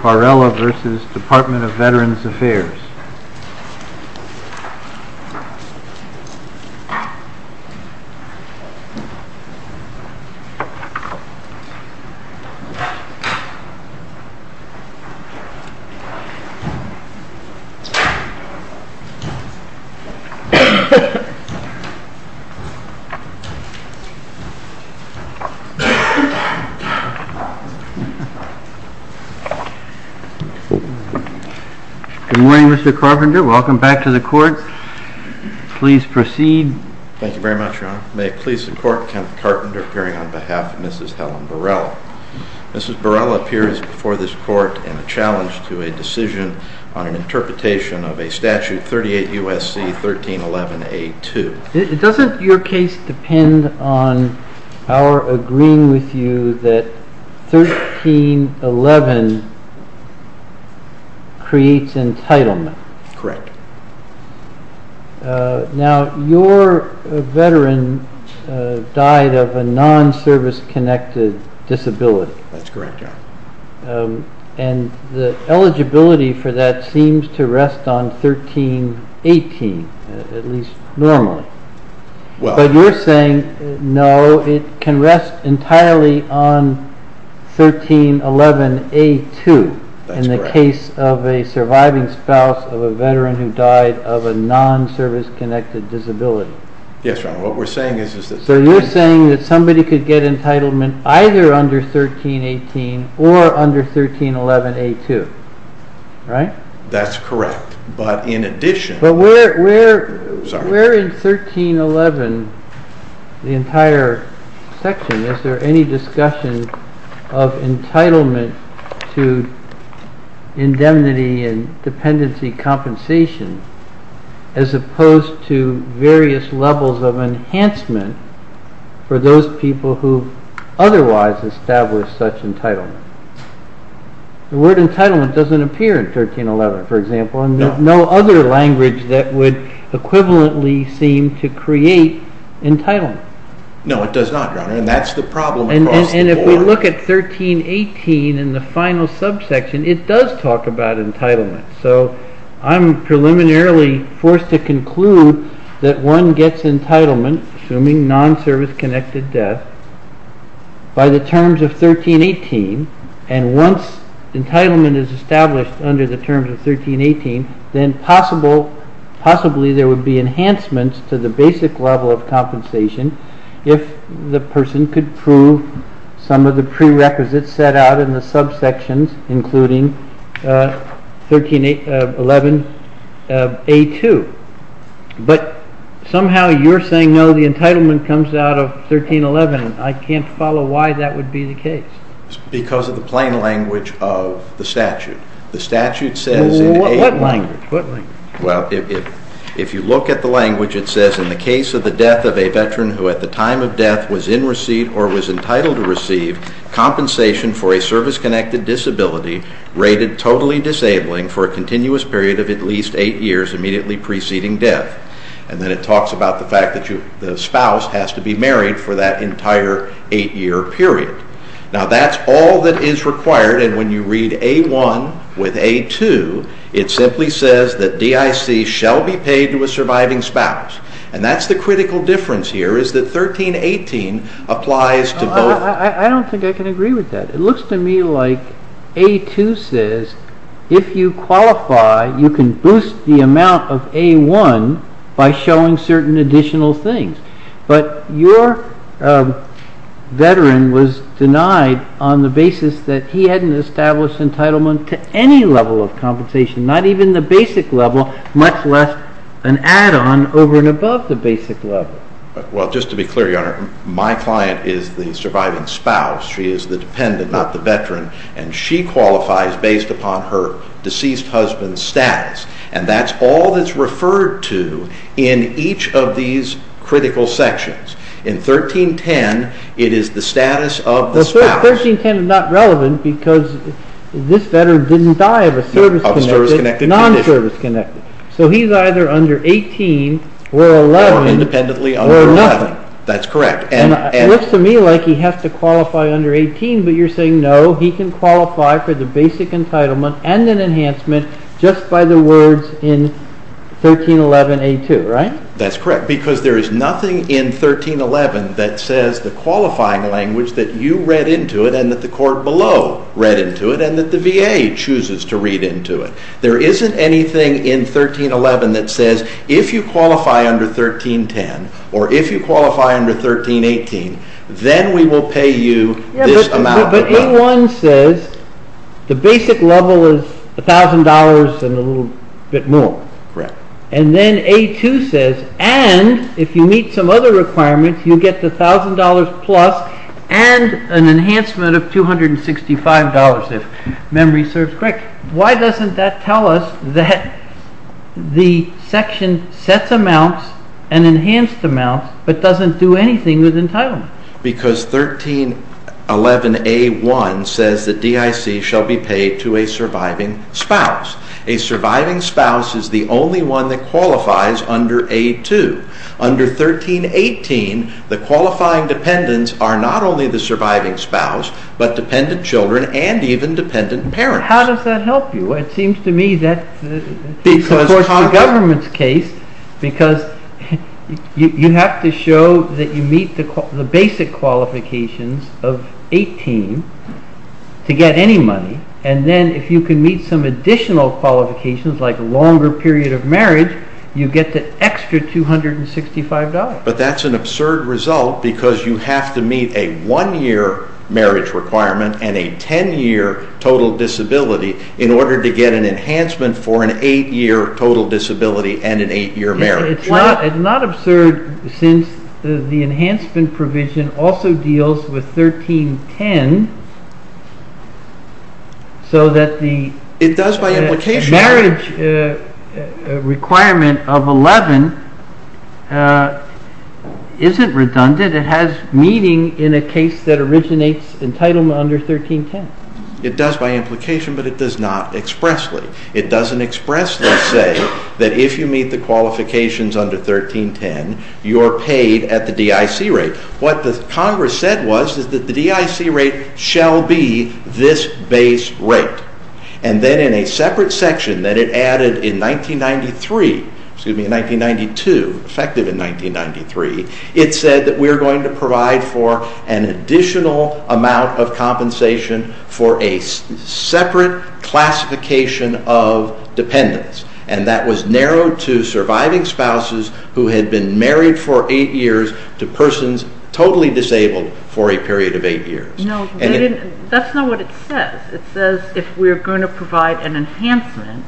Varela v. Department of Veterans Affairs Good morning, Mr. Carpenter. Welcome back to the court. Please proceed. Thank you very much, Your Honor. May it please the Court, Kenneth Carpenter appearing on behalf of Mrs. Helen Varela. Mrs. Varela appears before this court in a challenge to a decision on an interpretation of a statute 38 U.S.C. 1311A.2. Doesn't your case depend on our agreeing with you that 1311 creates entitlement? Correct. Now, your veteran died of a non-service-connected disability. That's correct, Your Honor. And the eligibility for that seems to rest on 1318, at least normally. But you're saying, no, it can rest entirely on 1311A.2 in the case of a surviving spouse of a veteran who died of a non-service-connected disability. Yes, Your Honor. What we're saying is that... Right? That's correct. But in addition... But where in 1311, the entire section, is there any discussion of entitlement to indemnity and dependency compensation, as opposed to various levels of enhancement for those people who otherwise established such entitlement? The word entitlement doesn't appear in 1311, for example, and no other language that would equivalently seem to create entitlement. No, it does not, Your Honor, and that's the problem across the board. And if we look at 1318 in the final subsection, it does talk about entitlement. So, I'm preliminarily forced to conclude that one gets entitlement, assuming non-service-connected death, by the terms of 1318. And once entitlement is established under the terms of 1318, then possibly there would be enhancements to the basic level of compensation if the person could prove some of the prerequisites set out in the subsections, including 1311A2. But somehow you're saying, no, the entitlement comes out of 1311. I can't follow why that would be the case. Because of the plain language of the statute. What language? Well, if you look at the language, it says, In the case of the death of a veteran who at the time of death was in receipt or was entitled to receive compensation for a service-connected disability rated totally disabling for a continuous period of at least eight years immediately preceding death. And then it talks about the fact that the spouse has to be married for that entire eight-year period. Now that's all that is required, and when you read A1 with A2, it simply says that DIC shall be paid to a surviving spouse. And that's the critical difference here, is that 1318 applies to both. I don't think I can agree with that. It looks to me like A2 says, if you qualify, you can boost the amount of A1 by showing certain additional things. But your veteran was denied on the basis that he hadn't established entitlement to any level of compensation, not even the basic level, much less an add-on over and above the basic level. Well, just to be clear, Your Honor, my client is the surviving spouse. She is the dependent, not the veteran. And she qualifies based upon her deceased husband's status. And that's all that's referred to in each of these critical sections. In 1310, it is the status of the spouse. Well, 1310 is not relevant because this veteran didn't die of a service-connected, non-service-connected condition. So he's either under 18 or 11. Or independently under 11. That's correct. And it looks to me like he has to qualify under 18, but you're saying no, he can qualify for the basic entitlement and an enhancement just by the words in 1311A2, right? That's correct. Because there is nothing in 1311 that says the qualifying language that you read into it and that the court below read into it and that the VA chooses to read into it. There isn't anything in 1311 that says if you qualify under 1310 or if you qualify under 1318, then we will pay you this amount. But A1 says the basic level is $1,000 and a little bit more. Correct. And then A2 says, and if you meet some other requirements, you get the $1,000 plus and an enhancement of $265 if memory serves correctly. Why doesn't that tell us that the section sets amounts and enhanced amounts but doesn't do anything with entitlements? Because 1311A1 says that DIC shall be paid to a surviving spouse. A surviving spouse is the only one that qualifies under A2. Under 1318, the qualifying dependents are not only the surviving spouse but dependent children and even dependent parents. How does that help you? It seems to me that's of course the government's case because you have to show that you meet the basic qualifications of 18 to get any money and then if you can meet some additional qualifications like a longer period of marriage, you get the extra $265. But that's an absurd result because you have to meet a one-year marriage requirement and a ten-year total disability in order to get an enhancement for an eight-year total disability and an eight-year marriage. It's not absurd since the enhancement provision also deals with 1310 so that the marriage requirement of 11 isn't redundant. It has meaning in a case that originates entitlement under 1310. It does by implication but it does not expressly. It doesn't expressly say that if you meet the qualifications under 1310, you're paid at the DIC rate. What the Congress said was that the DIC rate shall be this base rate and then in a separate section that it added in 1992, effective in 1993, it said that we're going to provide for an additional amount of compensation for a separate classification of dependents and that was narrowed to surviving spouses who had been married for eight years to persons totally disabled for a period of eight years. That's not what it says. It says if we're going to provide an enhancement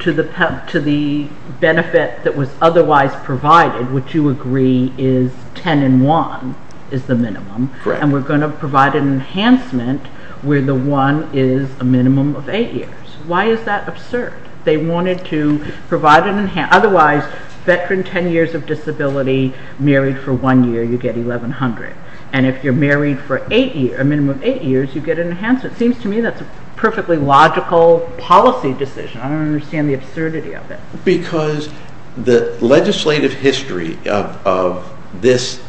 to the benefit that was otherwise provided, which you agree is ten and one is the minimum, and we're going to provide an enhancement where the one is a minimum of eight years. Why is that absurd? They wanted to provide an enhancement. Otherwise, veteran ten years of disability married for one year, you get 1100. And if you're married for a minimum of eight years, you get an enhancement. It seems to me that's a perfectly logical policy decision. I don't understand the absurdity of it. Because the legislative history of this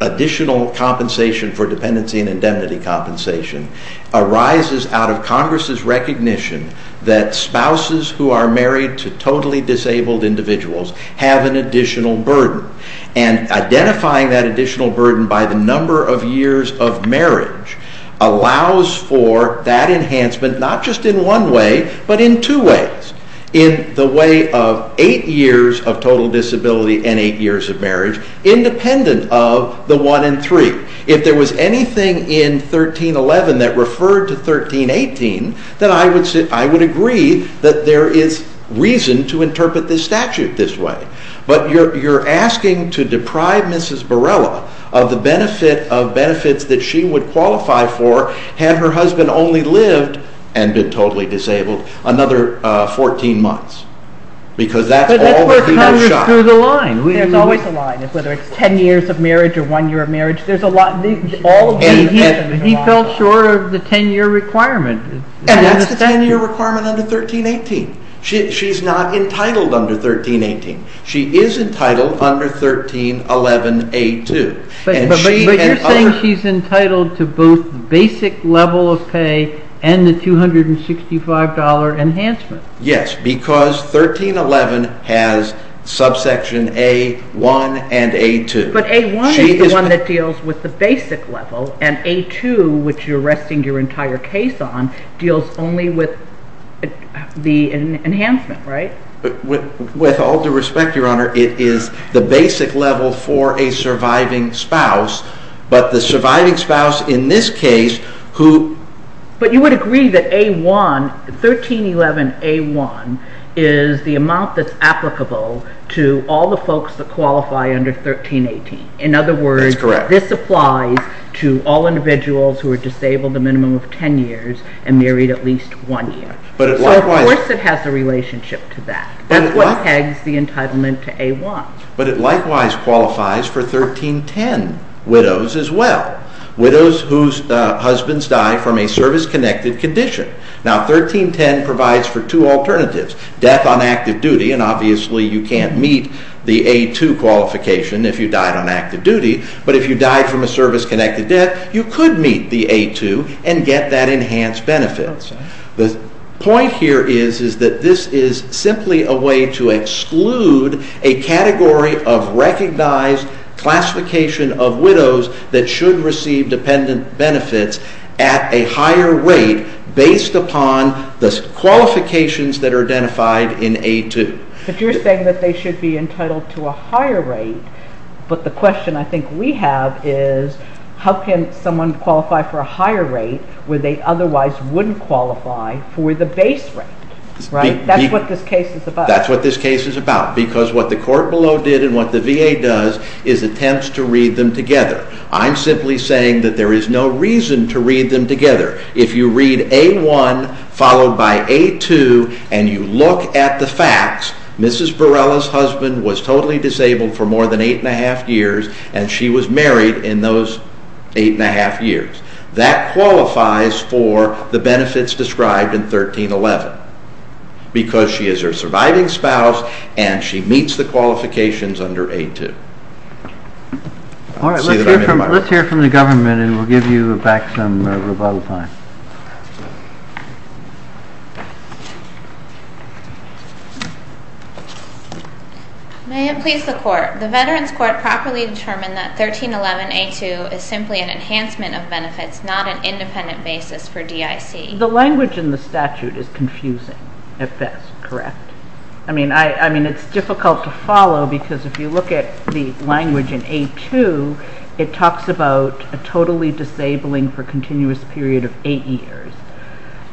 additional compensation for dependency and indemnity compensation arises out of Congress's recognition that spouses who are married to totally disabled individuals have an additional burden, and identifying that additional burden by the number of years of marriage allows for that enhancement not just in one way but in two ways. In the way of eight years of total disability and eight years of marriage, independent of the one and three. If there was anything in 1311 that referred to 1318, then I would agree that there is reason to interpret this statute this way. But you're asking to deprive Mrs. Borrella of the benefit of benefits that she would qualify for had her husband only lived, and been totally disabled, another 14 months. Because that's all that he was shot. But that's where it comes through the line. There's always a line, whether it's ten years of marriage or one year of marriage. There's a lot. He fell short of the ten-year requirement. And that's the ten-year requirement under 1318. She's not entitled under 1318. She is entitled under 1311A2. But you're saying she's entitled to both basic level of pay and the $265 enhancement. Yes, because 1311 has subsection A1 and A2. But A1 is the one that deals with the basic level, and A2, which you're resting your entire case on, deals only with the enhancement, right? With all due respect, Your Honor, it is the basic level for a surviving spouse. But the surviving spouse in this case who... But you would agree that A1, 1311A1, is the amount that's applicable to all the folks that qualify under 1318. In other words, this applies to all individuals who are disabled a minimum of ten years and married at least one year. So, of course, it has a relationship to that. That's what pegs the entitlement to A1. But it likewise qualifies for 1310 widows as well, widows whose husbands die from a service-connected condition. Now, 1310 provides for two alternatives, death on active duty, and obviously you can't meet the A2 qualification if you died on active duty. But if you died from a service-connected death, you could meet the A2 and get that enhanced benefit. The point here is that this is simply a way to exclude a category of recognized classification of widows that should receive dependent benefits at a higher rate based upon the qualifications that are identified in A2. But you're saying that they should be entitled to a higher rate, but the question I think we have is how can someone qualify for a higher rate when they otherwise wouldn't qualify for the base rate, right? That's what this case is about. That's what this case is about. Because what the court below did and what the VA does is attempts to read them together. I'm simply saying that there is no reason to read them together. If you read A1 followed by A2 and you look at the facts, Mrs. Barela's husband was totally disabled for more than eight and a half years, and she was married in those eight and a half years. That qualifies for the benefits described in 1311 because she is her surviving spouse and she meets the qualifications under A2. Let's hear from the government and we'll give you back some rebuttal time. May it please the Court. The Veterans Court properly determined that 1311A2 is simply an enhancement of benefits, not an independent basis for DIC. The language in the statute is confusing, if that's correct. I mean, it's difficult to follow because if you look at the language in A2, it talks about a totally disabling for continuous period of eight years,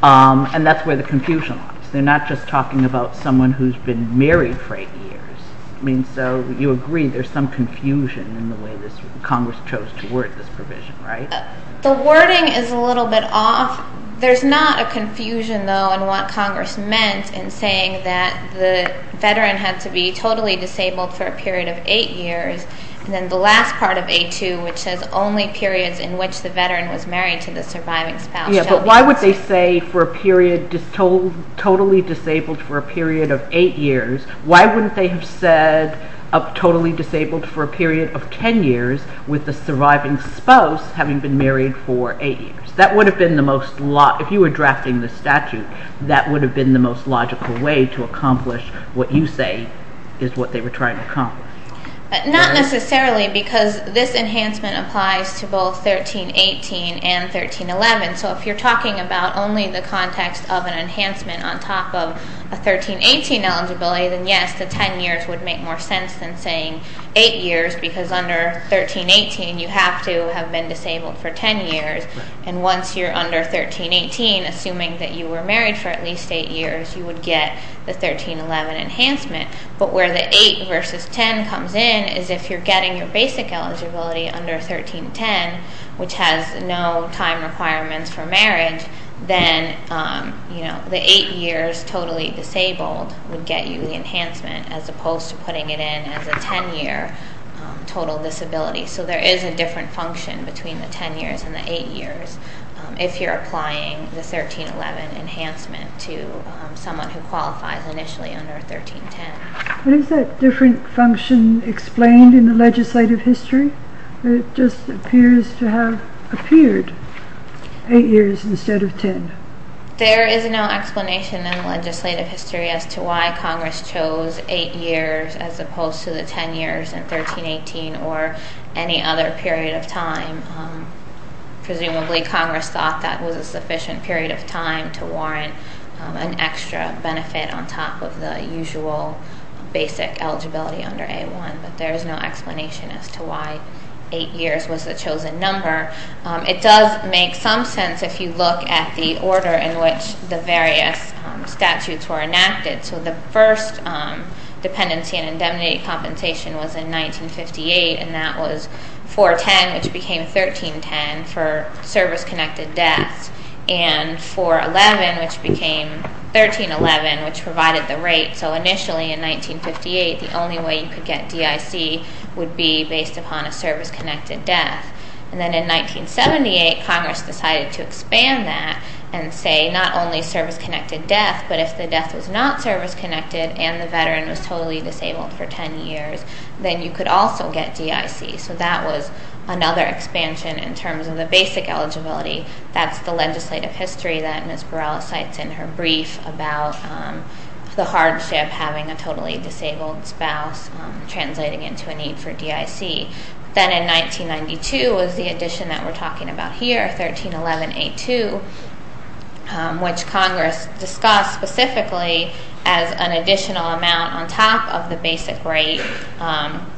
and that's where the confusion lies. They're not just talking about someone who's been married for eight years. I mean, so you agree there's some confusion in the way Congress chose to word this provision, right? The wording is a little bit off. There's not a confusion, though, in what Congress meant in saying that the Veteran had to be totally disabled for a period of eight years, and then the last part of A2, which says only periods in which the Veteran was married to the surviving spouse. Yeah, but why would they say totally disabled for a period of eight years? Why wouldn't they have said totally disabled for a period of ten years with the surviving spouse having been married for eight years? That would have been the most logical way to accomplish what you say is what they were trying to accomplish. Not necessarily because this enhancement applies to both 1318 and 1311. So if you're talking about only the context of an enhancement on top of a 1318 eligibility, then yes, the ten years would make more sense than saying eight years, because under 1318 you have to have been disabled for ten years. And once you're under 1318, assuming that you were married for at least eight years, you would get the 1311 enhancement. But where the eight versus ten comes in is if you're getting your basic eligibility under 1310, which has no time requirements for marriage, then the eight years totally disabled would get you the enhancement, as opposed to putting it in as a ten-year total disability. So there is a different function between the ten years and the eight years if you're applying the 1311 enhancement to someone who qualifies initially under 1310. What is that different function explained in the legislative history? It just appears to have appeared eight years instead of ten. There is no explanation in legislative history as to why Congress chose eight years as opposed to the ten years in 1318 or any other period of time. Presumably Congress thought that was a sufficient period of time to warrant an extra benefit on top of the usual basic eligibility under A1, but there is no explanation as to why eight years was the chosen number. It does make some sense if you look at the order in which the various statutes were enacted. So the first dependency and indemnity compensation was in 1958, and that was 410, which became 1310 for service-connected deaths, and 411, which became 1311, which provided the rate. So initially in 1958, the only way you could get DIC would be based upon a service-connected death. Then in 1978, Congress decided to expand that and say not only service-connected death, but if the death was not service-connected and the veteran was totally disabled for ten years, then you could also get DIC. So that was another expansion in terms of the basic eligibility. That's the legislative history that Ms. Burrell cites in her brief about the hardship having a totally disabled spouse translating into a need for DIC. Then in 1992 was the addition that we're talking about here, 1311A2, which Congress discussed specifically as an additional amount on top of the basic rate.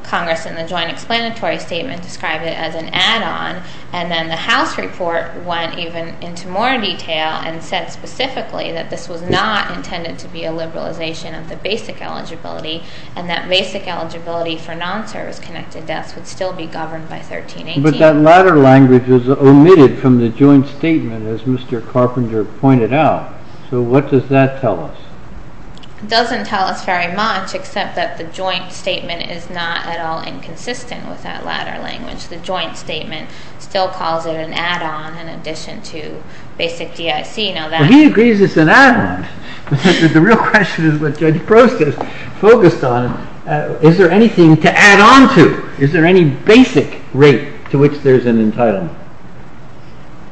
Congress in the joint explanatory statement described it as an add-on, and then the House report went even into more detail and said specifically that this was not intended to be a liberalization of the basic eligibility and that basic eligibility for non-service-connected deaths would still be governed by 1318. But that latter language was omitted from the joint statement, as Mr. Carpenter pointed out. So what does that tell us? It doesn't tell us very much, except that the joint statement is not at all inconsistent with that latter language. The joint statement still calls it an add-on in addition to basic DIC. He agrees it's an add-on. The real question is what Judge Prost has focused on. Is there anything to add on to? Is there any basic rate to which there's an entitlement?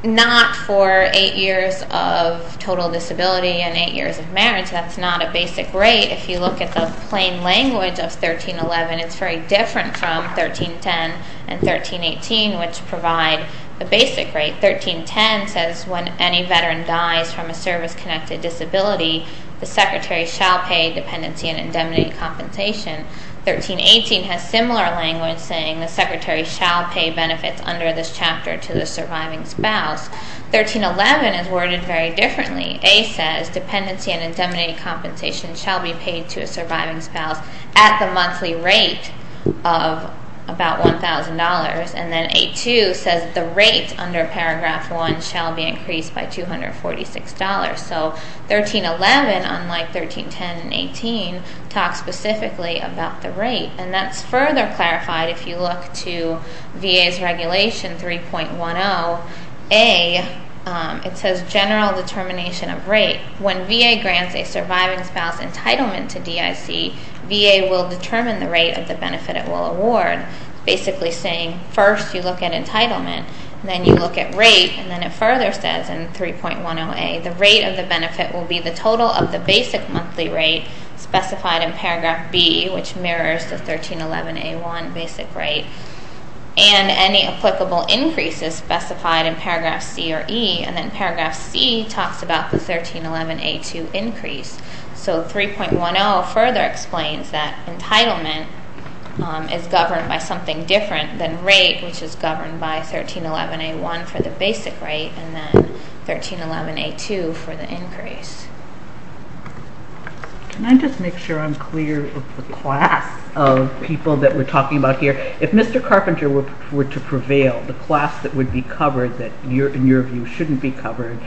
Not for 8 years of total disability and 8 years of marriage. That's not a basic rate. If you look at the plain language of 1311, it's very different from 1310 and 1318, which provide the basic rate. 1310 says when any veteran dies from a service-connected disability, the secretary shall pay dependency and indemnity compensation. 1318 has similar language saying the secretary shall pay benefits under this chapter to the surviving spouse. 1311 is worded very differently. A says dependency and indemnity compensation shall be paid to a surviving spouse at the monthly rate of about $1,000. And then A2 says the rate under Paragraph 1 shall be increased by $246. So 1311, unlike 1310 and 18, talks specifically about the rate. And that's further clarified if you look to VA's Regulation 3.10a. It says general determination of rate. When VA grants a surviving spouse entitlement to DIC, VA will determine the rate of the benefit it will award, basically saying first you look at entitlement, then you look at rate, and then it further says in 3.10a the rate of the benefit will be the total of the basic monthly rate specified in Paragraph B, which mirrors the 1311A1 basic rate, and any applicable increases specified in Paragraph C or E. And then Paragraph C talks about the 1311A2 increase. So 3.10 further explains that entitlement is governed by something different than rate, which is governed by 1311A1 for the basic rate and then 1311A2 for the increase. Can I just make sure I'm clear of the class of people that we're talking about here? If Mr. Carpenter were to prevail, the class that would be covered that, in your view, shouldn't be covered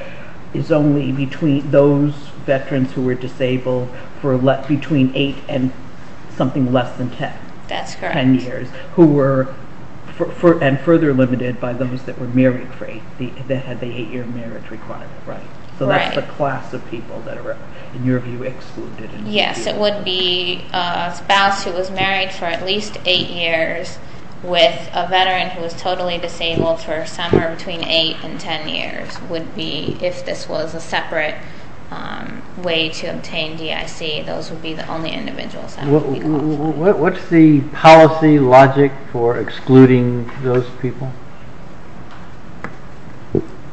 is only between those veterans who were disabled for between 8 and something less than 10. That's correct. Ten years, and further limited by those that were married for 8, that had the 8-year marriage requirement, right? Right. So that's the class of people that are, in your view, excluded. Yes, it would be a spouse who was married for at least 8 years with a veteran who was totally disabled for somewhere between 8 and 10 years. It would be, if this was a separate way to obtain DIC, those would be the only individuals that would be covered. What's the policy logic for excluding those people?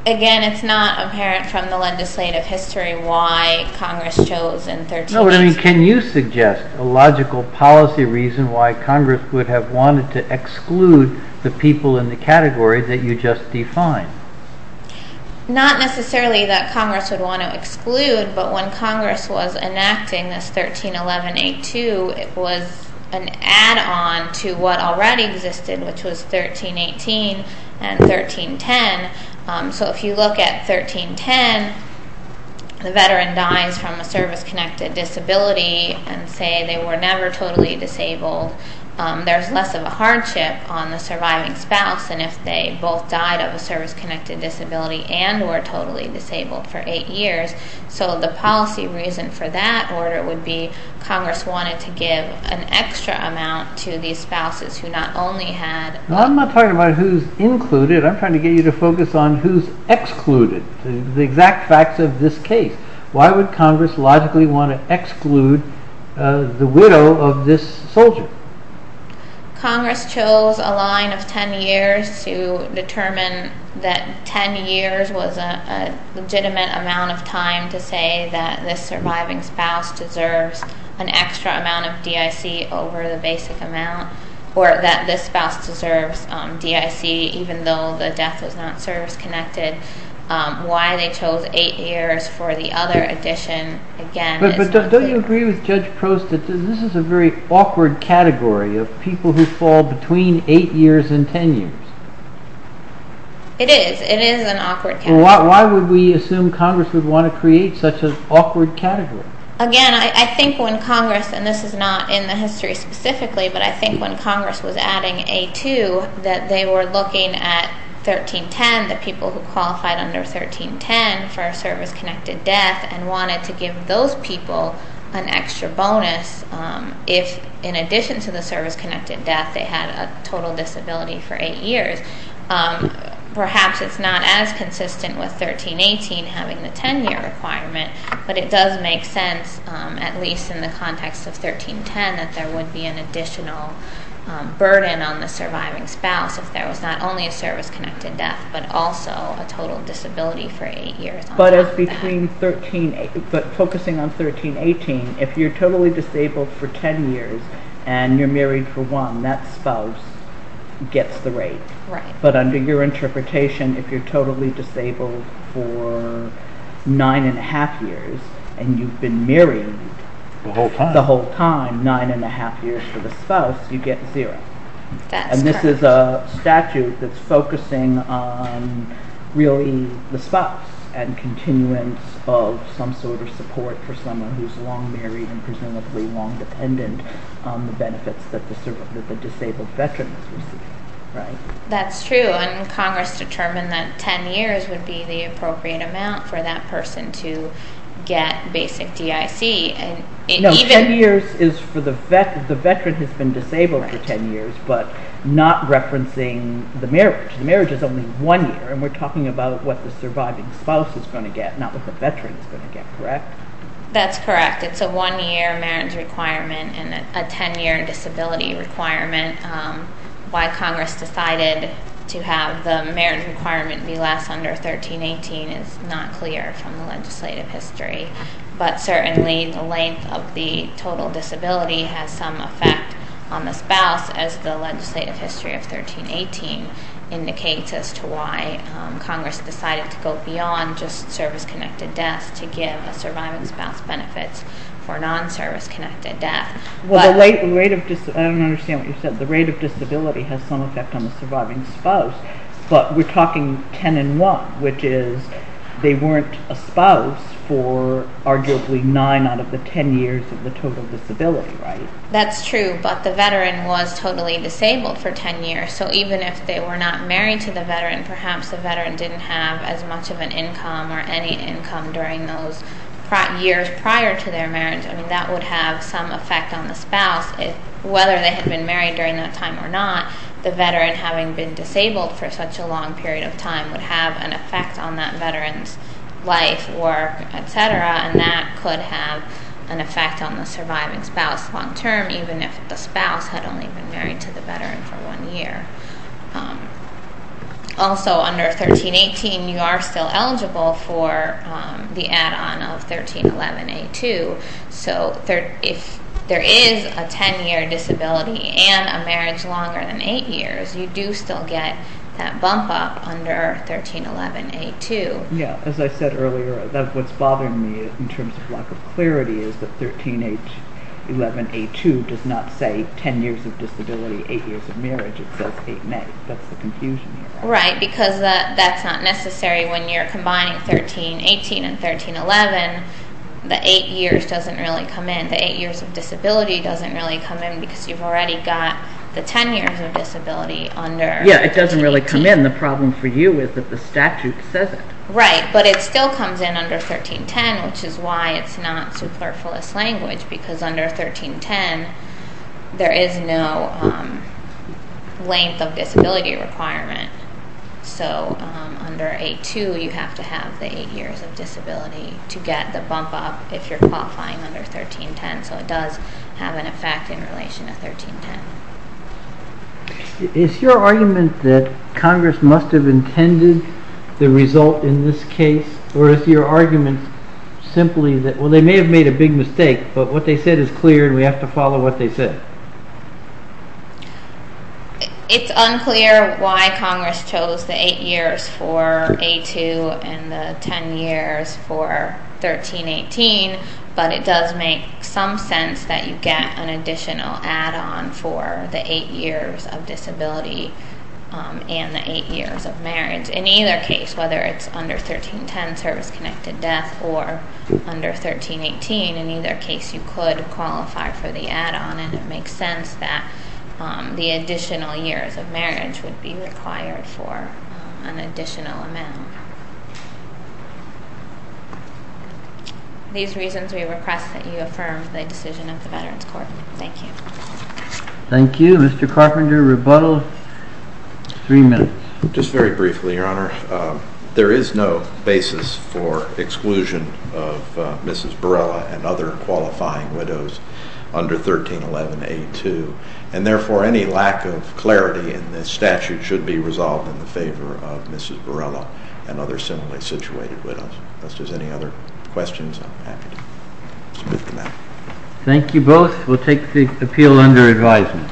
Again, it's not apparent from the legislative history why Congress chose in 13... No, but I mean, can you suggest a logical policy reason why Congress would have wanted to exclude the people in the category that you just defined? Not necessarily that Congress would want to exclude, but when Congress was enacting this 1311A2, it was an add-on to what already existed, which was 1318 and 1310. So if you look at 1310, the veteran dies from a service-connected disability, and say they were never totally disabled. There's less of a hardship on the surviving spouse than if they both died of a service-connected disability and were totally disabled for 8 years. So the policy reason for that order would be Congress wanted to give an extra amount to these spouses who not only had... I'm not talking about who's included. I'm trying to get you to focus on who's excluded. The exact facts of this case. Why would Congress logically want to exclude the widow of this soldier? Congress chose a line of 10 years to determine that 10 years was a legitimate amount of time to say that this surviving spouse deserves an extra amount of DIC over the basic amount, or that this spouse deserves DIC even though the death is not service-connected. Why they chose 8 years for the other addition, again... But don't you agree with Judge Prost that this is a very awkward category of people who fall between 8 years and 10 years? It is. It is an awkward category. Why would we assume Congress would want to create such an awkward category? Again, I think when Congress... And this is not in the history specifically, but I think when Congress was adding A2, that they were looking at 1310, the people who qualified under 1310 for a service-connected death, and wanted to give those people an extra bonus if, in addition to the service-connected death, they had a total disability for 8 years. Perhaps it's not as consistent with 1318 having the 10-year requirement, but it does make sense, at least in the context of 1310, that there would be an additional burden on the surviving spouse if there was not only a service-connected death but also a total disability for 8 years on top of that. But focusing on 1318, if you're totally disabled for 10 years and you're married for one, that spouse gets the rate. But under your interpretation, if you're totally disabled for 9½ years and you've been married the whole time, 9½ years for the spouse, you get zero. And this is a statute that's focusing on really the spouse and continuance of some sort of support for someone who's long married and presumably long dependent on the benefits that the disabled veteran is receiving. That's true, and Congress determined that 10 years would be the appropriate amount for that person to get basic DIC. No, 10 years is for the veteran who's been disabled for 10 years, but not referencing the marriage. The marriage is only one year, and we're talking about what the surviving spouse is going to get, not what the veteran is going to get, correct? That's correct. It's a one-year marriage requirement and a 10-year disability requirement. Why Congress decided to have the marriage requirement be less under 1318 is not clear from the legislative history. But certainly the length of the total disability has some effect on the spouse, as the legislative history of 1318 indicates as to why Congress decided to go beyond just service-connected deaths to give a surviving spouse benefits for non-service-connected death. I don't understand what you said. The rate of disability has some effect on the surviving spouse, but we're talking 10 and 1, which is they weren't a spouse for arguably 9 out of the 10 years of the total disability, right? That's true, but the veteran was totally disabled for 10 years, so even if they were not married to the veteran, perhaps the veteran didn't have as much of an income or any income during those years prior to their marriage. I mean, that would have some effect on the spouse. Whether they had been married during that time or not, the veteran, having been disabled for such a long period of time, would have an effect on that veteran's life, work, et cetera, and that could have an effect on the surviving spouse long-term even if the spouse had only been married to the veteran for one year. Also, under 1318, you are still eligible for the add-on of 1311A2, so if there is a 10-year disability and a marriage longer than 8 years, you do still get that bump-up under 1311A2. Yeah, as I said earlier, what's bothering me in terms of lack of clarity is that 1311A2 does not say 10 years of disability, 8 years of marriage. It says 8 and 8. That's the confusion here. Right, because that's not necessary when you're combining 1318 and 1311. The 8 years doesn't really come in. The 8 years of disability doesn't really come in because you've already got the 10 years of disability under 18. Yeah, it doesn't really come in. The problem for you is that the statute says it. Right, but it still comes in under 1310, which is why it's not superfluous language, because under 1310, there is no length of disability requirement. So under A2, you have to have the 8 years of disability to get the bump-up if you're qualifying under 1310, so it does have an effect in relation to 1310. Is your argument that Congress must have intended the result in this case, or is your argument simply that, well, they may have made a big mistake, but what they said is clear and we have to follow what they said? It's unclear why Congress chose the 8 years for A2 and the 10 years for 1318, but it does make some sense that you get an additional add-on for the 8 years of disability and the 8 years of marriage. In either case, whether it's under 1310, service-connected death, or under 1318, in either case, you could qualify for the add-on, and it makes sense that the additional years of marriage would be required for an additional amount. These reasons, we request that you affirm the decision of the Veterans Court. Thank you. Thank you. Mr. Carpenter, rebuttal. Three minutes. Just very briefly, Your Honor. There is no basis for exclusion of Mrs. Barella and other qualifying widows under 1311A2, and therefore any lack of clarity in this statute should be resolved in the favor of Mrs. Barella and other similarly situated widows. If there's any other questions, I'm happy to submit them now. Thank you both. We'll take the appeal under advisement.